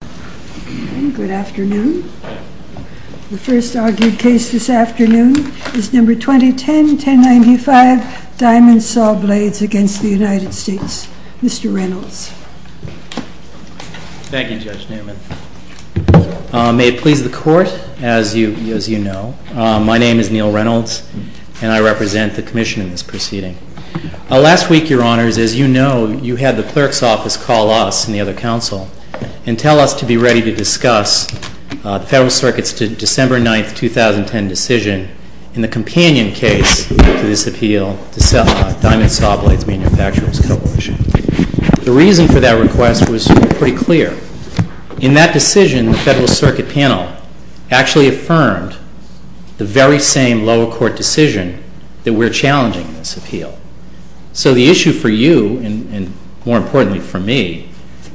THE FIRST ARGUED CASE THIS AFTERNOON IS NUMBER 2010-1095, DIAMOND SAWBLADES v. United States. MR. REYNOLDS. Thank you, Judge Newman. May it please the Court, as you know, my name is Neil Reynolds, and I represent the Commission in this proceeding. Last week, Your Honors, as you know, you had the Clerk's Office call us and the other counsel and tell us to be ready to discuss the Federal Circuit's December 9, 2010, decision in the companion case to this appeal, the Diamond Sawblades Manufacturers Coalition. The reason for that request was pretty clear. In that decision, the Federal Circuit panel actually affirmed the very same lower court decision that we're challenging in this appeal. So the issue for you, and more importantly for me,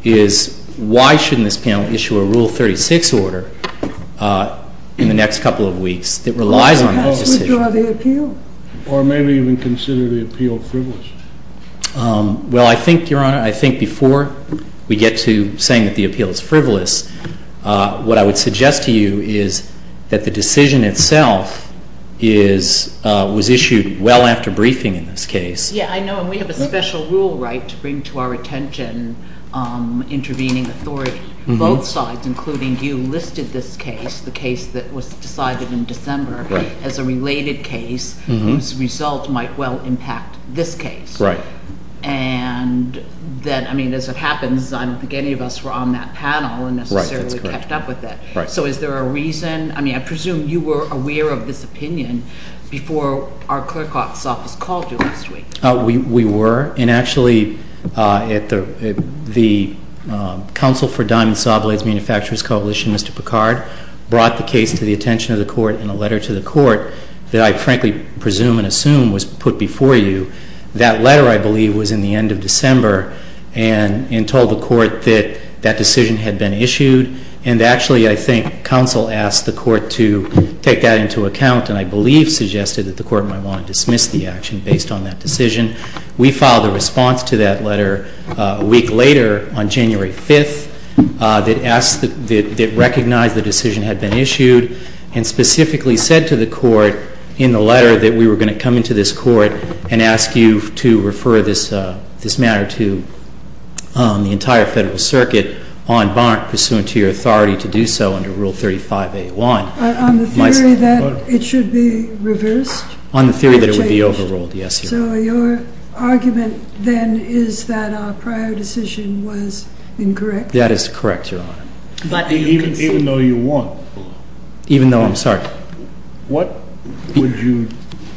is why shouldn't this panel issue a Rule 36 order in the next couple of weeks that relies on this decision? JUSTICE SCALIA. Well, perhaps we draw the appeal. JUSTICE BREYER. Or maybe even consider the appeal frivolous. MR. REYNOLDS. Well, I think, Your Honor, I think before we get to saying that the appeal is frivolous, what I would suggest to you is that the case is a case. JUSTICE BREYER. Yeah, I know. And we have a special rule right to bring to our attention intervening authority. Both sides, including you, listed this case, the case that was decided in December, as a related case whose result might well impact this case. MR. REYNOLDS. Right. JUSTICE BREYER. And that, I mean, as it happens, I don't think any of us were on that panel and necessarily kept up with it. So is there a reason? I mean, I presume you were aware of this opinion before our hearing. MR. REYNOLDS. We were. And actually, the Counsel for Diamond Saw Blades Manufacturers Coalition, Mr. Picard, brought the case to the attention of the Court in a letter to the Court that I frankly presume and assume was put before you. That letter, I believe, was in the end of December and told the Court that that decision had been issued. And actually, I think Counsel asked the Court to take that into account and I believe suggested that the Court might want to review that decision. We filed a response to that letter a week later on January 5th that recognized the decision had been issued and specifically said to the Court in the letter that we were going to come into this Court and ask you to refer this matter to the entire Federal Circuit en banc pursuant to your authority to do so under Rule 35A1. JUSTICE SOTOMAYOR. On the theory that it should be reversed? MR. REYNOLDS. On the theory that it would be overruled, yes, Your Honor. JUSTICE SOTOMAYOR. So your argument then is that our prior decision was MR. REYNOLDS. That is correct, Your Honor. JUSTICE SOTOMAYOR. But even though you won? MR. REYNOLDS. Even though? I'm sorry. JUSTICE SOTOMAYOR. What would you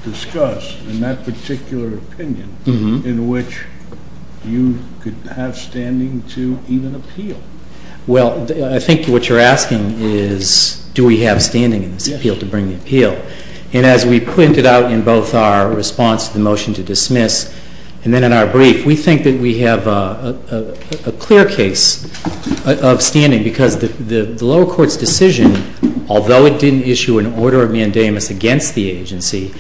discuss in that particular opinion in which you could have standing to even appeal? MR. REYNOLDS. Well, I think what you're asking is do we have standing in this appeal to bring the appeal. And as we pointed out in both our response to the motion to dismiss and then in our brief, we think that we have a clear case of standing because the lower court's decision, although it didn't issue an order of mandamus against the agency,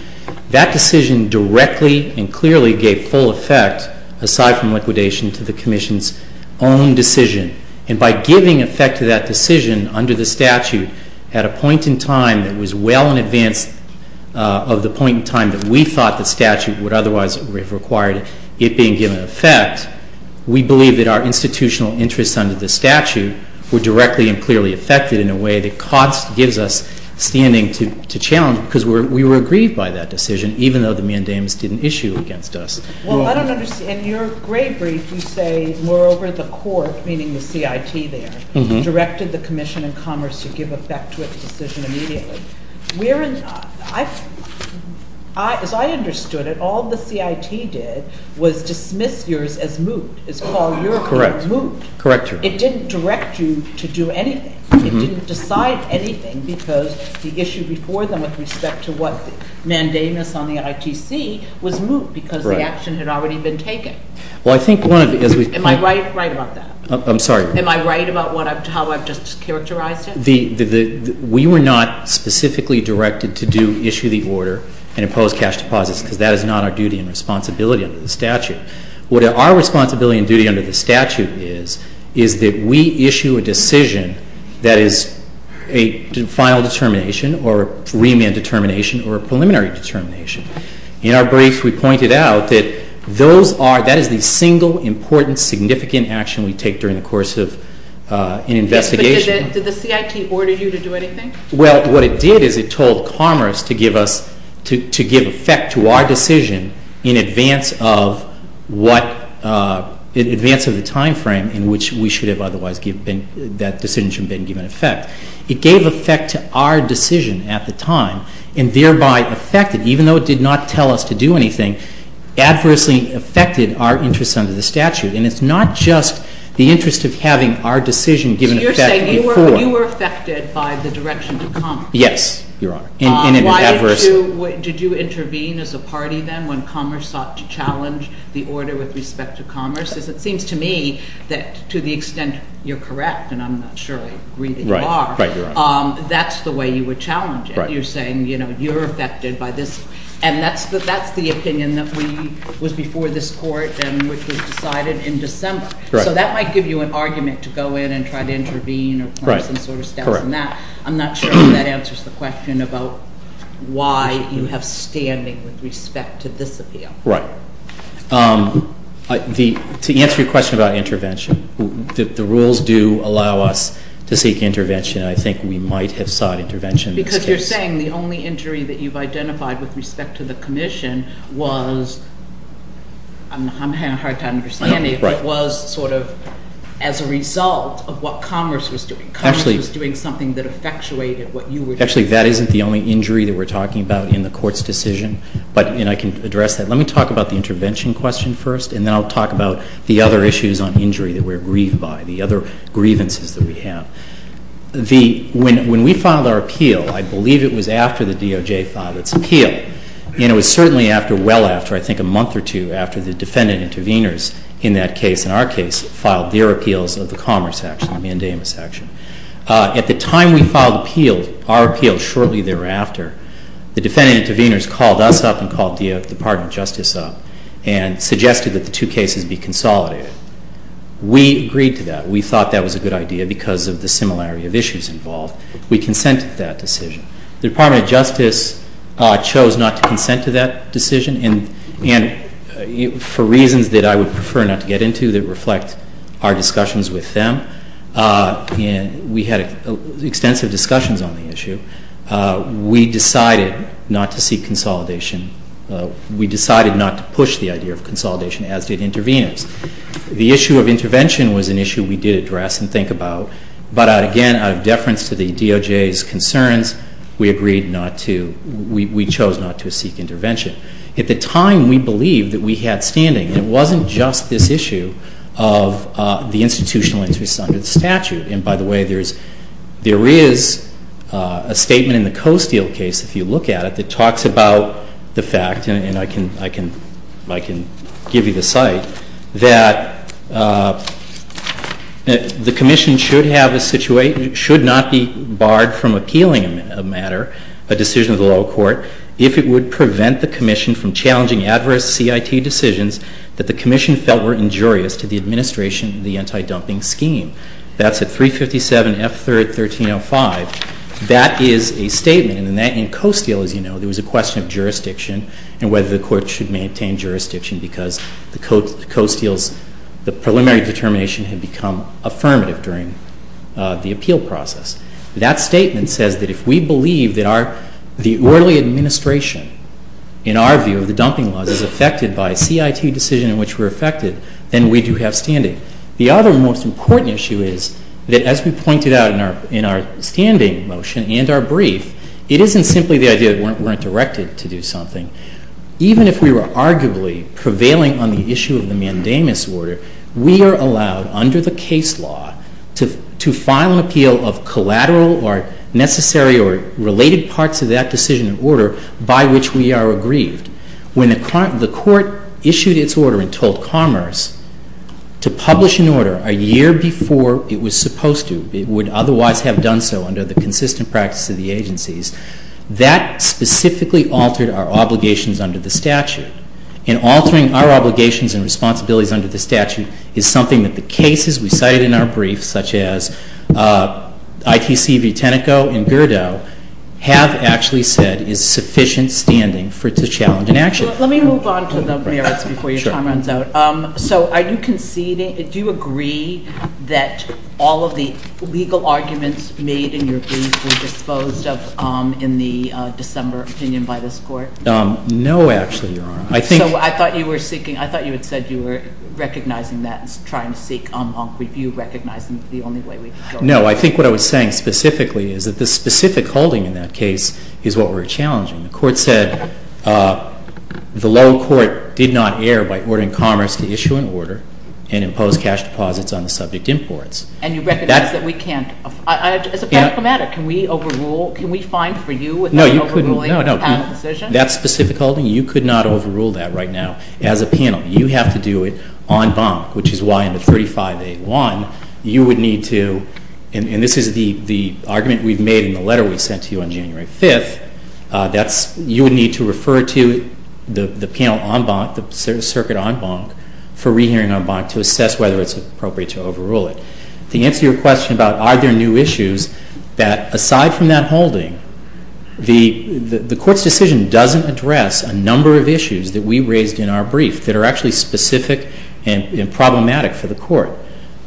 that decision directly and clearly gave full effect, aside from liquidation, to the Commission's own decision. And by giving effect to that decision under the statute at a time in advance of the point in time that we thought the statute would otherwise have required it being given effect, we believe that our institutional interests under the statute were directly and clearly affected in a way that gives us standing to challenge because we were aggrieved by that decision, even though the mandamus didn't issue against us. JUSTICE SOTOMAYOR. Well, I don't understand. In your gray brief, you say moreover, the court, meaning the CIT there, directed the Commission in Commerce to give effect to its decision immediately. As I understood it, all the CIT did was dismiss yours as moot, is call your court moot. EISENACH. Correct, Your Honor. JUSTICE SOTOMAYOR. It didn't direct you to do anything. It didn't decide anything because the issue before them with respect to what mandamus on the ITC was moot because the action had already been taken. MR. EISENACH. Right. Well, I think one of the- JUSTICE SOTOMAYOR. Am I right about that? MR. EISENACH. Yes, Your Honor. The CIT specifically directed to issue the order and impose cash deposits because that is not our duty and responsibility under the statute. What our responsibility and duty under the statute is, is that we issue a decision that is a final determination or remand determination or a preliminary determination. In our brief, we pointed out that those are-that is the single, important, significant action we take during the course of an investigation. JUSTICE SOTOMAYOR. Yes, but did the CIT order you to do anything? EISENACH. Well, what it did is it told Commerce to give us-to give effect to our decision in advance of what-in advance of the timeframe in which we should have otherwise given-that decision should have been given effect. It gave effect to our decision at the time and thereby affected-even though it did not tell us to do anything, adversely affected our interests under the statute. And it's not just the interest of having our decision given effect before. JUSTICE SOTOMAYOR. You were affected by the direction of Commerce. EISENACH. Yes, Your Honor. In an adverse- JUSTICE SOTOMAYOR. Why did you-did you intervene as a party then when Commerce sought to challenge the order with respect to Commerce? Because it seems to me that to the extent you're correct, and I'm not sure I agree that you are- EISENACH. Right. Right, Your Honor. JUSTICE SOTOMAYOR. That's the way you would challenge it. EISENACH. Right. JUSTICE SOTOMAYOR. And that's the opinion that we-was before this Court and which was decided in December. EISENACH. Right. And that might give you an argument to go in and try to Right. Correct. JUSTICE SOTOMAYOR. Some sort of steps in that. I'm not sure that answers the question about why you have standing with respect to this appeal. EISENACH. Right. The-to answer your question about intervention, the rules do allow us to seek intervention. I think we might have sought intervention in this case. JUSTICE SOTOMAYOR. Because you're saying the only injury that you've identified with respect to the Commission was-I'm having a hard time understanding. EISENACH. Right. JUSTICE SOTOMAYOR. It was sort of as a result of what Congress was doing. EISENACH. Actually- JUSTICE SOTOMAYOR. Congress was doing something that effectuated what you were doing. EISENACH. Actually, that isn't the only injury that we're talking about in the Court's decision. But-and I can address that. Let me talk about the intervention question first, and then I'll talk about the other issues on injury that we're grieved by, the other grievances that we have. The-when we filed our appeal, I believe it was after the DOJ filed its appeal, and it was certainly after-well after, I believe, the defendant intervenors in that case-in our case-filed their appeals of the Commerce action, the mandamus action. At the time we filed appeal-our appeal shortly thereafter, the defendant intervenors called us up and called the Department of Justice up and suggested that the two cases be consolidated. We agreed to that. We thought that was a good idea because of the similarity of issues involved. We consented to that decision. The Department of Justice chose not to consent to that decision, and-and for reasons that I would prefer not to get into that reflect our discussions with them, and we had extensive discussions on the issue, we decided not to seek consolidation. We decided not to push the idea of consolidation, as did intervenors. The issue of intervention was an issue we did address and think about, but again, out of deference to the DOJ's concerns, we agreed not to-we chose not to seek intervention. At the time, we believed that we had standing, and it wasn't just this issue of the institutional interests under the statute. And by the way, there is-there is a statement in the Coasteel case, if you look at it, that talks about the fact-and I can-I can-I can give you the site-that the Commission should have a situation-should not be barred from appealing a matter, a decision of the lower court, if it would prevent the Commission from challenging adverse CIT decisions that the Commission felt were injurious to the administration of the anti-dumping scheme. That's at 357 F. 3rd, 1305. That is a statement, and in that-in Coasteel, as you know, there was a question of jurisdiction and whether the Court should maintain jurisdiction because the Coasteel's-the preliminary determination had become affirmative during the appeal process. That statement says that if we believe that our-the early administration, in our view, of the dumping laws is affected by CIT decision in which we're affected, then we do have standing. The other most important issue is that, as we pointed out in our-in our standing motion and our brief, it isn't simply the idea that we weren't directed to do something. Even if we were arguably prevailing on the issue of the mandamus order, we are allowed, under the case law, to-to file an appeal of collateral or necessary or related parts of that decision and order by which we are aggrieved. When the Court issued its order and told Commerce to publish an order a year before it was supposed to, it would otherwise have done so under the consistent practice of the agencies, that specifically altered our obligations under the statute. And altering our obligations and responsibilities under the statute is something that the cases we cited in our brief, such as ITC Vitenico and Gerdau, have actually said is sufficient standing for it to challenge an action. Let me move on to the merits before your time runs out. Sure. So are you conceding-do you agree that all of the legal arguments made in your brief were disposed of in the December opinion by this Court? No, actually, Your Honor. I think- Well, I'm not saying that's trying to seek en banc review, recognizing it's the only way we can go about it. No, I think what I was saying specifically is that the specific holding in that case is what we're challenging. The Court said the low court did not err by ordering Commerce to issue an order and impose cash deposits on the subject imports. And you recognize that we can't-as a practical matter, can we overrule-can we find for you without overruling the panel decision? No, you couldn't. That specific holding, you could not overrule that right now as a panel. You have to do it en banc, which is why in the 35A1, you would need to-and this is the argument we've made in the letter we sent to you on January 5th-that's-you would need to refer to the panel en banc, the circuit en banc, for rehearing en banc to assess whether it's appropriate to overrule it. To answer your question about are there new issues, that aside from that holding, the Court's decision doesn't address a number of issues that we think are actually specific and problematic for the Court.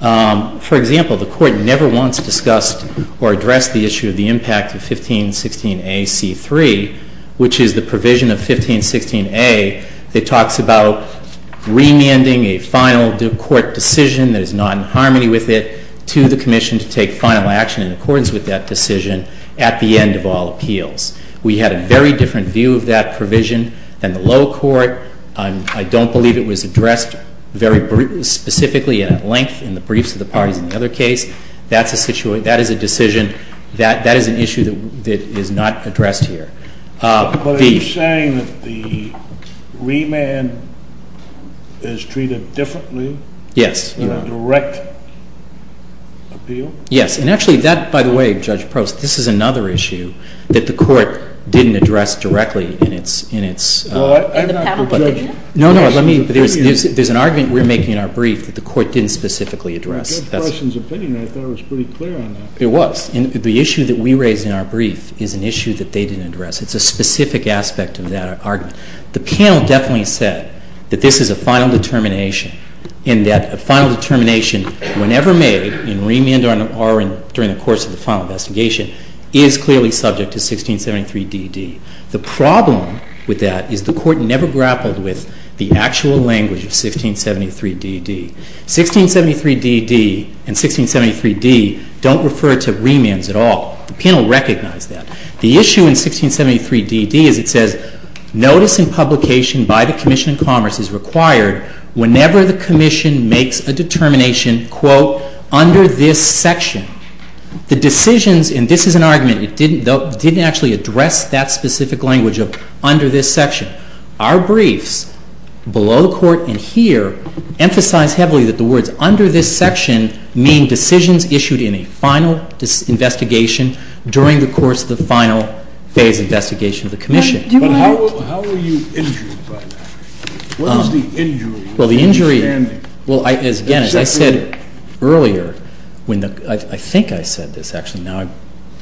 For example, the Court never once discussed or addressed the issue of the impact of 1516A.C.3, which is the provision of 1516A that talks about remanding a final court decision that is not in harmony with it to the Commission to take final action in accordance with that decision at the end of all appeals. We had a very different view of that provision than the low court. I don't believe it was addressed very specifically at length in the briefs of the parties in the other case. That's a situation-that is a decision-that is an issue that is not addressed here. The- But are you saying that the remand is treated differently? Yes. In a direct appeal? Yes. And actually, that-by the way, Judge Prost, this is another issue that the Court didn't address directly in its- Well, I'm not the judge. No, no. Let me-there's an argument we're making in our brief that the Court didn't specifically address. That's- In Judge Preston's opinion, I thought it was pretty clear on that. It was. And the issue that we raised in our brief is an issue that they didn't address. It's a specific aspect of that argument. The panel definitely said that this is a final determination and that a final determination, whenever made in remand or during the course of the final investigation, is clearly subject to 1673DD. The problem with that is the Court never grappled with the actual language of 1673DD. 1673DD and 1673D don't refer to remands at all. The panel recognized that. The issue in 1673DD is it says notice in publication by the Commission of Commerce is required whenever the Commission makes a determination, quote, under this section. The decisions-and this is an argument. It didn't actually address that specific language of under this section. Our briefs below the Court and here emphasize heavily that the words under this section mean decisions issued in a final investigation during the course of the final phase investigation of the Commission. But how were you injured by that? What is the injury? Well, the injury- Understanding. Well, again, as I said earlier, I think I said this actually. Now I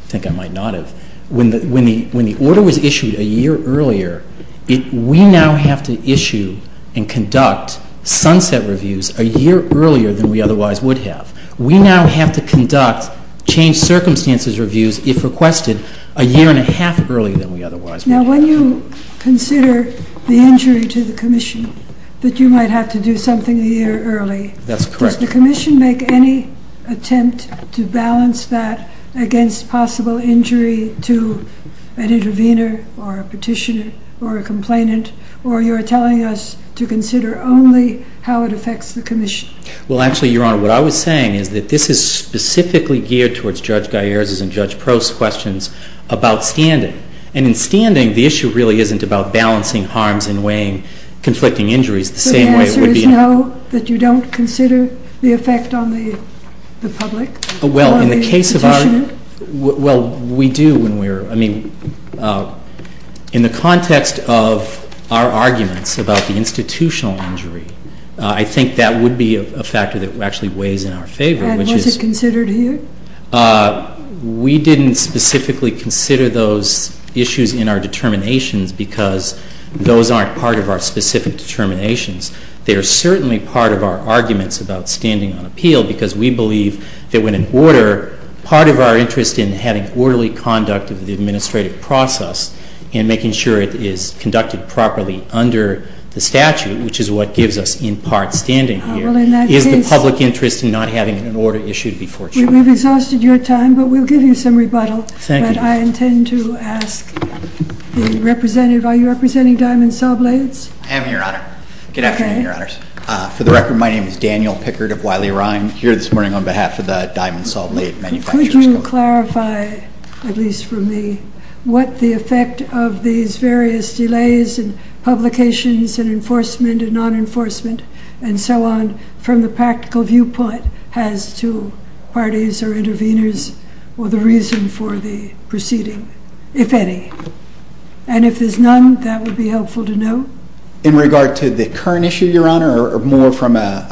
think I might not have. When the order was issued a year earlier, we now have to issue and conduct sunset reviews a year earlier than we otherwise would have. We now have to conduct changed circumstances reviews, if requested, a year and a half earlier than we otherwise would have. Now, when you consider the injury to the Commission that you might have to do something a year early- That's correct. Does the Commission make any attempt to balance that against possible injury to an intervener or a petitioner or a complainant? Or you're telling us to consider only how it affects the Commission? Well, actually, Your Honor, what I was saying is that this is specifically geared towards Judge Gaier's and Judge Prost's questions about standing. And in standing, the issue really isn't about balancing harms and weighing conflicting injuries the same way it would be- So the answer is no, that you don't consider the effect on the public or the institution? Well, in the case of our- Well, we do when we're- I mean, in the context of our arguments about the institutional injury, I think that would be a factor that actually weighs in our favor, which is- And was it considered here? We didn't specifically consider those issues in our determinations because those aren't part of our specific determinations. They are certainly part of our arguments about standing on appeal because we believe that when in order, part of our interest in having orderly conduct of the administrative process and making sure it is conducted properly under the statute, which is what gives us in part standing here- Well, in that case- Is the public interest in not having an order issued before trial. We've exhausted your time, but we'll give you some rebuttal. Thank you. But I intend to ask the representative. Are you representing Diamond Saw Blades? I am, Your Honor. Good afternoon, Your Honors. Okay. For the record, my name is Daniel Pickard of Wiley Rhine. I'm here this morning on behalf of the Diamond Saw Blade Manufacturers' Coalition. Could you clarify, at least for me, what the effect of these various delays and publications and enforcement and non-enforcement and so on from the proceeding, if any? And if there's none, that would be helpful to know. In regard to the current issue, Your Honor, or more from a-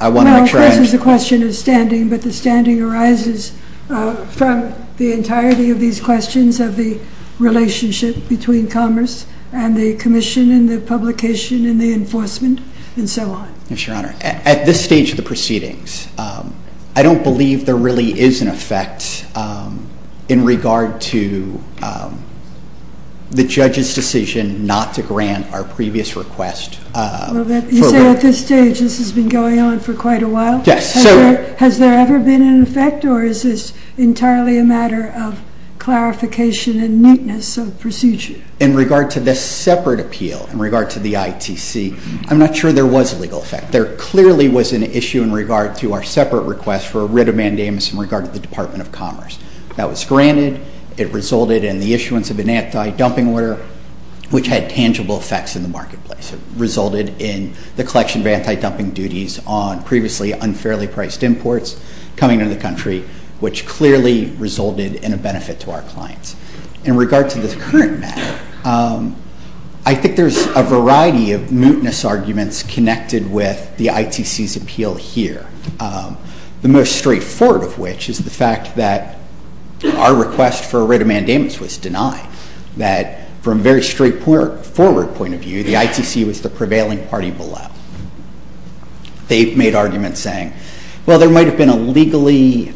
Well, of course, it's a question of standing, but the standing arises from the entirety of these questions of the relationship between commerce and the commission and the publication and the enforcement and so on. Yes, Your Honor. At this stage of the proceedings, I don't believe there really is an effect in regard to the judge's decision not to grant our previous request. You say, at this stage, this has been going on for quite a while? Yes. Has there ever been an effect, or is this entirely a matter of clarification and neatness of procedure? In regard to this separate appeal, in regard to the ITC, I'm not sure there was a legal effect. There clearly was an issue in regard to our separate request for a writ of commerce. That was granted. It resulted in the issuance of an anti-dumping order, which had tangible effects in the marketplace. It resulted in the collection of anti-dumping duties on previously unfairly priced imports coming into the country, which clearly resulted in a benefit to our clients. In regard to the current matter, I think there's a variety of mootness arguments connected with the ITC's appeal here, the most straightforward of which is the fact that our request for a writ of mandamus was denied, that from a very straightforward point of view, the ITC was the prevailing party below. They made arguments saying, well, there might have been a legally,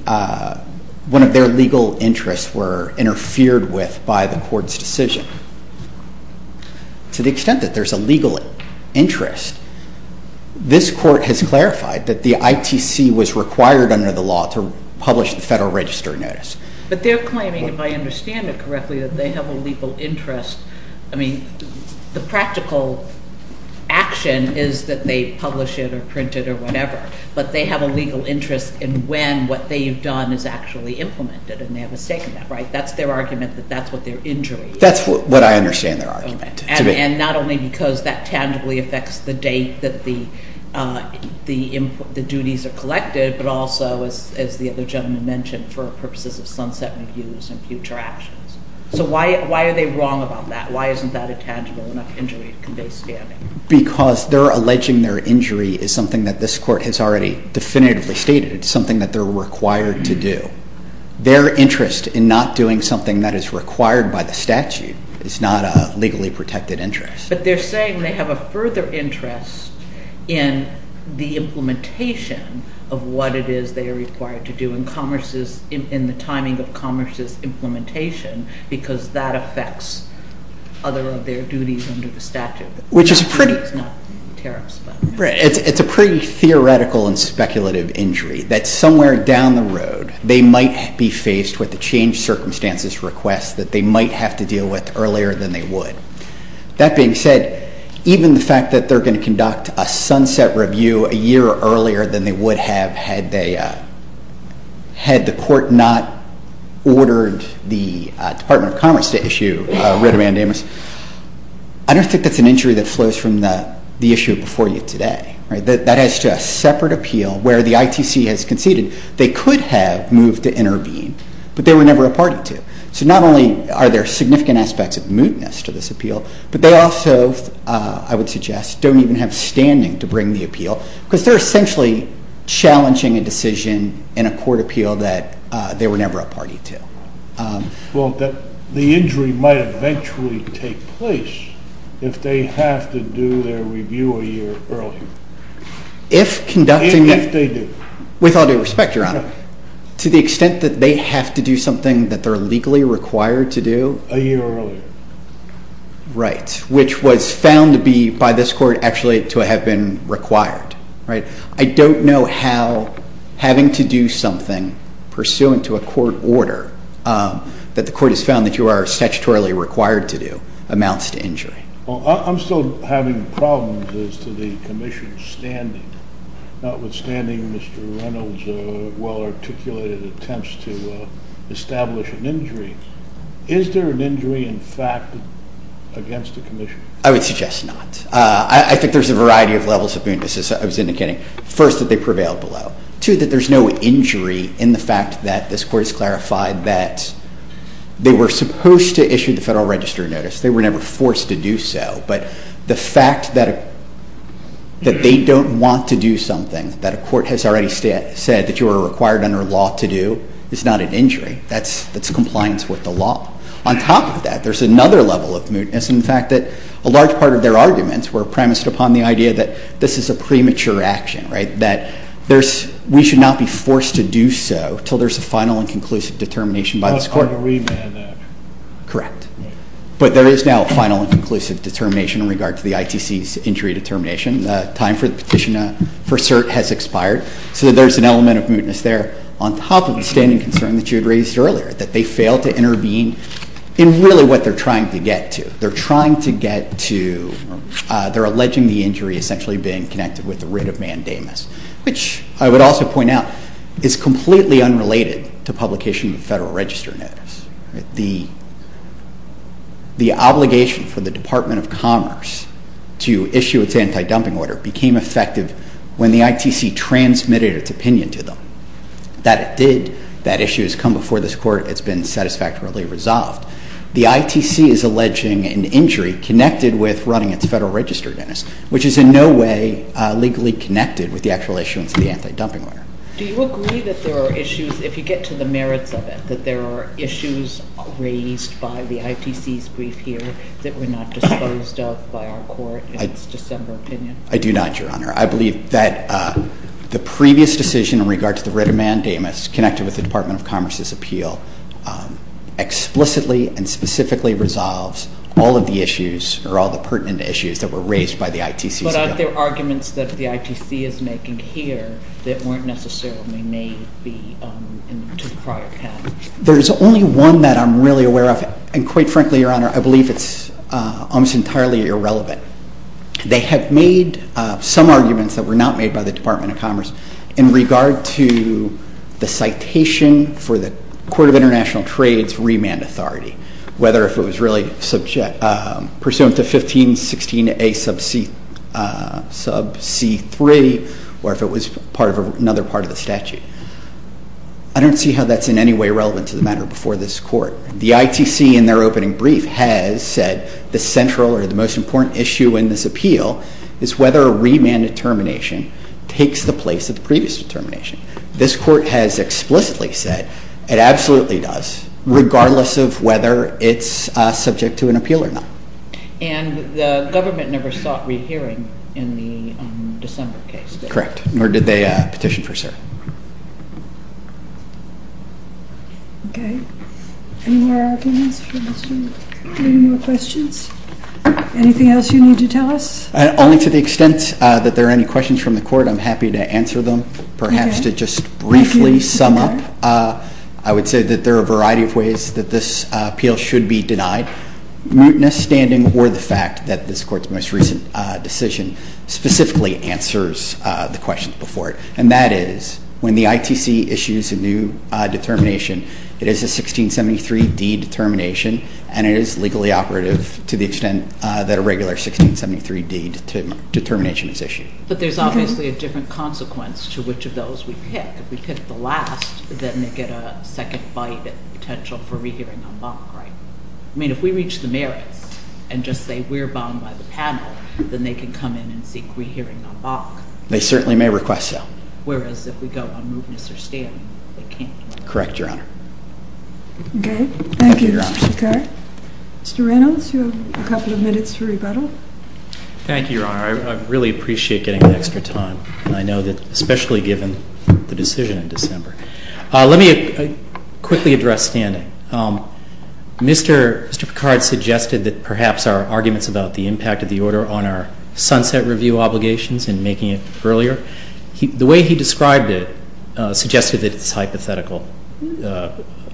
one of their legal interests were interfered with by the court's decision. To the extent that there's a legal interest, this court has clarified that the ITC was required under the law to publish the Federal Register Notice. But they're claiming, if I understand it correctly, that they have a legal interest. I mean, the practical action is that they publish it or print it or whatever, but they have a legal interest in when what they've done is actually implemented, and they have a stake in that, right? That's their argument that that's what their injury is. That's what I understand their argument to be. And not only because that tangibly affects the date that the duties are collected, but also, as the other gentleman mentioned, for purposes of sunset reviews and future actions. So why are they wrong about that? Why isn't that a tangible enough injury to convey standing? Because their alleging their injury is something that this court has already definitively stated. It's something that they're required to do. Their interest in not doing something that is required by the statute is not a legal interest. But they're saying they have a further interest in the implementation of what it is they are required to do in the timing of Commerce's implementation because that affects other of their duties under the statute, which is not tariffs. It's a pretty theoretical and speculative injury that somewhere down the road they might be faced with a change circumstances request that they might have to deal with earlier than they would. That being said, even the fact that they're going to conduct a sunset review a year earlier than they would have had they, had the court not ordered the Department of Commerce to issue writ of mandamus, I don't think that's an injury that flows from the issue before you today. That adds to a separate appeal where the ITC has conceded they could have moved to intervene, but they were never a party to. So not only are there significant aspects of mootness to this appeal, but they also, I would suggest, don't even have standing to bring the appeal because they're essentially challenging a decision in a court appeal that they were never a party to. Well, the injury might eventually take place if they have to do their review a year earlier. If conducting... Even if they do. With all due respect, Your Honor, to the extent that they have to do something that they're legally required to do... A year earlier. Right. Which was found to be, by this court, actually to have been required. Right? I don't know how having to do something pursuant to a court order that the court has found that you are statutorily required to do amounts to injury. Well, I'm still having problems as to the commission's standing, notwithstanding Mr. Reynolds' well-articulated attempts to establish an injury. Is there an injury, in fact, against the commission? I would suggest not. I think there's a variety of levels of mootness, as I was indicating. First, that they prevailed below. Two, that there's no injury in the fact that this court has clarified that they were supposed to issue the Federal Register notice. They were never forced to do so. But the fact that they don't want to do something that a court has already said that you are required under law to do is not an injury. That's compliance with the law. On top of that, there's another level of mootness, in fact, that a large part of their arguments were premised upon the idea that this is a premature action, right? That we should not be forced to do so until there's a final and conclusive determination by this court. So it's hard to remand that. Correct. But there is now a final and conclusive determination in regard to the ITC's injury determination. The time for the petition for cert has expired. So there's an element of mootness there, on top of the standing concern that you had raised earlier, that they failed to intervene in really what they're trying to get to. They're trying to get to or they're alleging the injury essentially being connected with the writ of mandamus, which I would also point out is completely unrelated to publication of the Federal Register notice. The obligation for the Department of Commerce to issue its anti-dumping order became effective when the ITC transmitted its opinion to them. That it did. That issue has come before this court. It's been satisfactorily resolved. The ITC is alleging an injury connected with running its Federal Register notice, which is in no way legally connected with the actual issuance of the anti-dumping order. Do you agree that there are issues, if you get to the merits of it, that there are issues raised by the ITC's brief here that were not disposed of by our court in its December opinion? I do not, Your Honor. I believe that the previous decision in regard to the writ of mandamus connected with the Department of Commerce's appeal explicitly and specifically resolves all of the issues or all the pertinent issues that were raised by the ITC's brief. But aren't there arguments that the ITC is making here that weren't necessarily made to the prior path? There's only one that I'm really aware of, and quite frankly, Your Honor, I believe it's almost entirely irrelevant. They have made some arguments that were not made by the Department of Commerce in regard to the citation for the Court of International Trade's remand authority. Whether if it was really pursuant to 1516A sub c3, or if it was part of another part of the statute. I don't see how that's in any way relevant to the matter before this court. The ITC in their opening brief has said the central or the most important issue in this appeal is whether a remand determination takes the place of the previous determination. This court has explicitly said it absolutely does, regardless of whether it's subject to an appeal or not. And the government never sought rehearing in the December case? Correct. Nor did they petition for cert? Okay. Any more opinions for this group? Any more questions? Anything else you need to tell us? Only to the extent that there are any questions from the court, I'm happy to answer them. Okay. Perhaps to just briefly sum up, I would say that there are a variety of ways that this appeal should be denied. Muteness, standing, or the fact that this court's most recent decision specifically answers the questions before it. And that is, when the ITC issues a new determination, it is a 1673D determination, and it is legally operative to the extent that a regular 1673D determination is issued. But there's obviously a different consequence to which of those we pick. If we pick the last, then they get a second bite at the potential for rehearing en banc, right? I mean, if we reach the merits and just say we're bound by the panel, then they can come in and seek rehearing en banc. They certainly may request so. Whereas if we go on muteness or standing, they can't. Correct, Your Honor. Thank you, Mr. Picard. Thank you, Your Honor. Mr. Reynolds, you have a couple of minutes to rebuttal. Thank you, Your Honor. I really appreciate getting the extra time. And I know that especially given the decision in December. Let me quickly address standing. Mr. Picard suggested that perhaps our arguments about the impact of the order on our sunset review obligations and making it earlier. The way he described it suggested that it's a hypothetical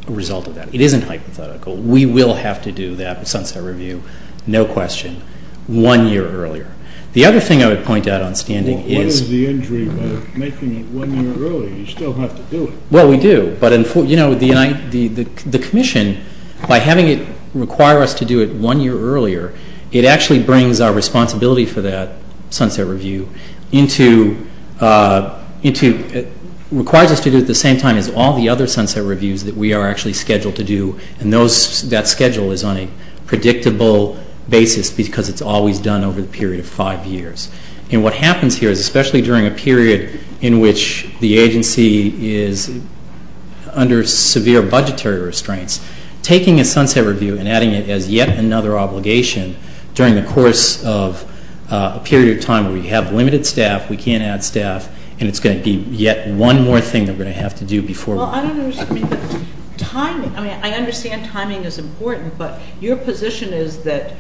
result of that. It isn't hypothetical. We will have to do that sunset review, no question, one year earlier. The other thing I would point out on standing is. Well, what is the injury of making it one year earlier? You still have to do it. Well, we do. But the commission, by having it require us to do it one year earlier, it actually brings our responsibility for that sunset review into requires us to do it at the same time as all the other sunset reviews that we are actually scheduled to do. And that schedule is on a predictable basis because it's always done over the period of five years. And what happens here is, especially during a period in which the agency is under severe budgetary restraints, taking a sunset review and adding it as yet another obligation during the course of a period of time where we have limited staff, we can't add staff, and it's going to be yet one more thing that we're going to have to do before. Well, I don't understand. I mean, I understand timing is important, but your position is that,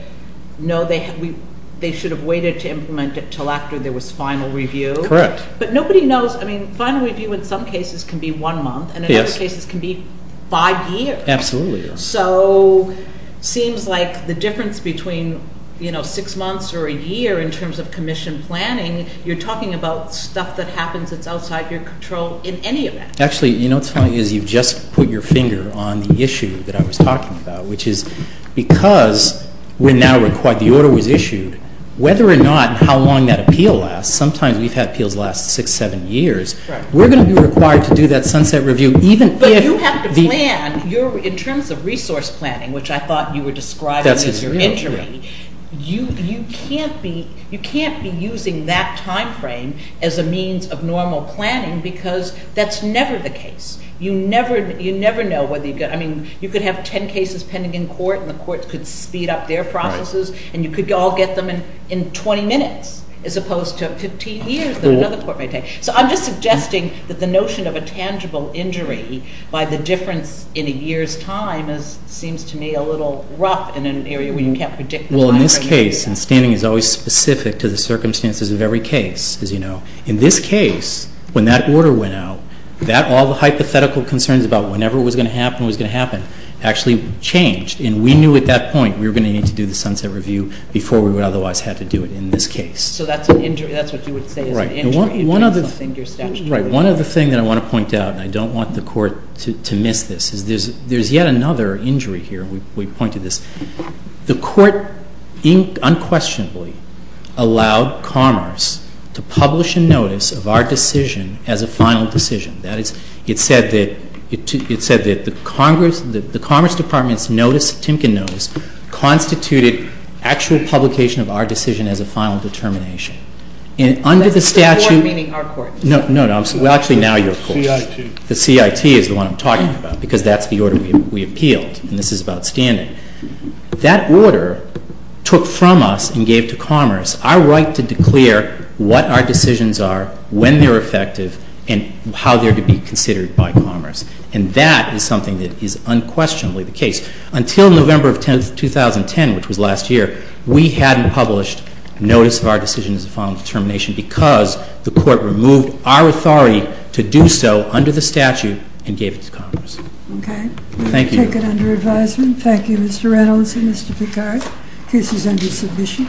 no, they should have waited to implement it until after there was final review. Correct. But nobody knows. I mean, final review in some cases can be one month. Yes. And in other cases can be five years. Absolutely. So it seems like the difference between, you know, six months or a year in terms of commission planning, you're talking about stuff that happens that's outside your control in any event. Actually, you know, what's funny is you've just put your finger on the issue that I was talking about, which is because we're now required, the order was issued, whether or not how long that appeal lasts, sometimes we've had appeals last six, seven years, we're going to be required to do that sunset review even if the – So in terms of resource planning, which I thought you were describing as your injury, you can't be using that timeframe as a means of normal planning because that's never the case. You never know whether you've got – I mean, you could have 10 cases pending in court and the courts could speed up their processes and you could all get them in 20 minutes as opposed to 15 years that another court may take. So I'm just suggesting that the notion of a tangible injury by the difference in a year's time seems to me a little rough in an area where you can't predict – Well, in this case, and standing is always specific to the circumstances of every case, as you know, in this case, when that order went out, all the hypothetical concerns about whenever it was going to happen was going to happen actually changed, and we knew at that point we were going to need to do the sunset review before we would otherwise have to do it in this case. So that's an injury. That's what you would say is an injury. Right. One other thing that I want to point out, and I don't want the Court to miss this, is there's yet another injury here. We point to this. The Court unquestionably allowed Commerce to publish a notice of our decision as a final decision. That is, it said that the Commerce Department's notice, Timken notice, constituted actual publication of our decision as a final determination. And under the statute – That's the Court, meaning our Court. No, no. Actually, now your Court. The CIT. The CIT is the one I'm talking about, because that's the order we appealed, and this is about standing. That order took from us and gave to Commerce our right to declare what our decisions are, when they're effective, and how they're to be considered by Commerce. And that is something that is unquestionably the case. Until November 10, 2010, which was last year, we hadn't published notice of our decision as a final determination because the Court removed our authority to do so under the statute and gave it to Commerce. Okay. Thank you. We will take it under advisement. Thank you, Mr. Reynolds and Mr. Picard. The case is under submission.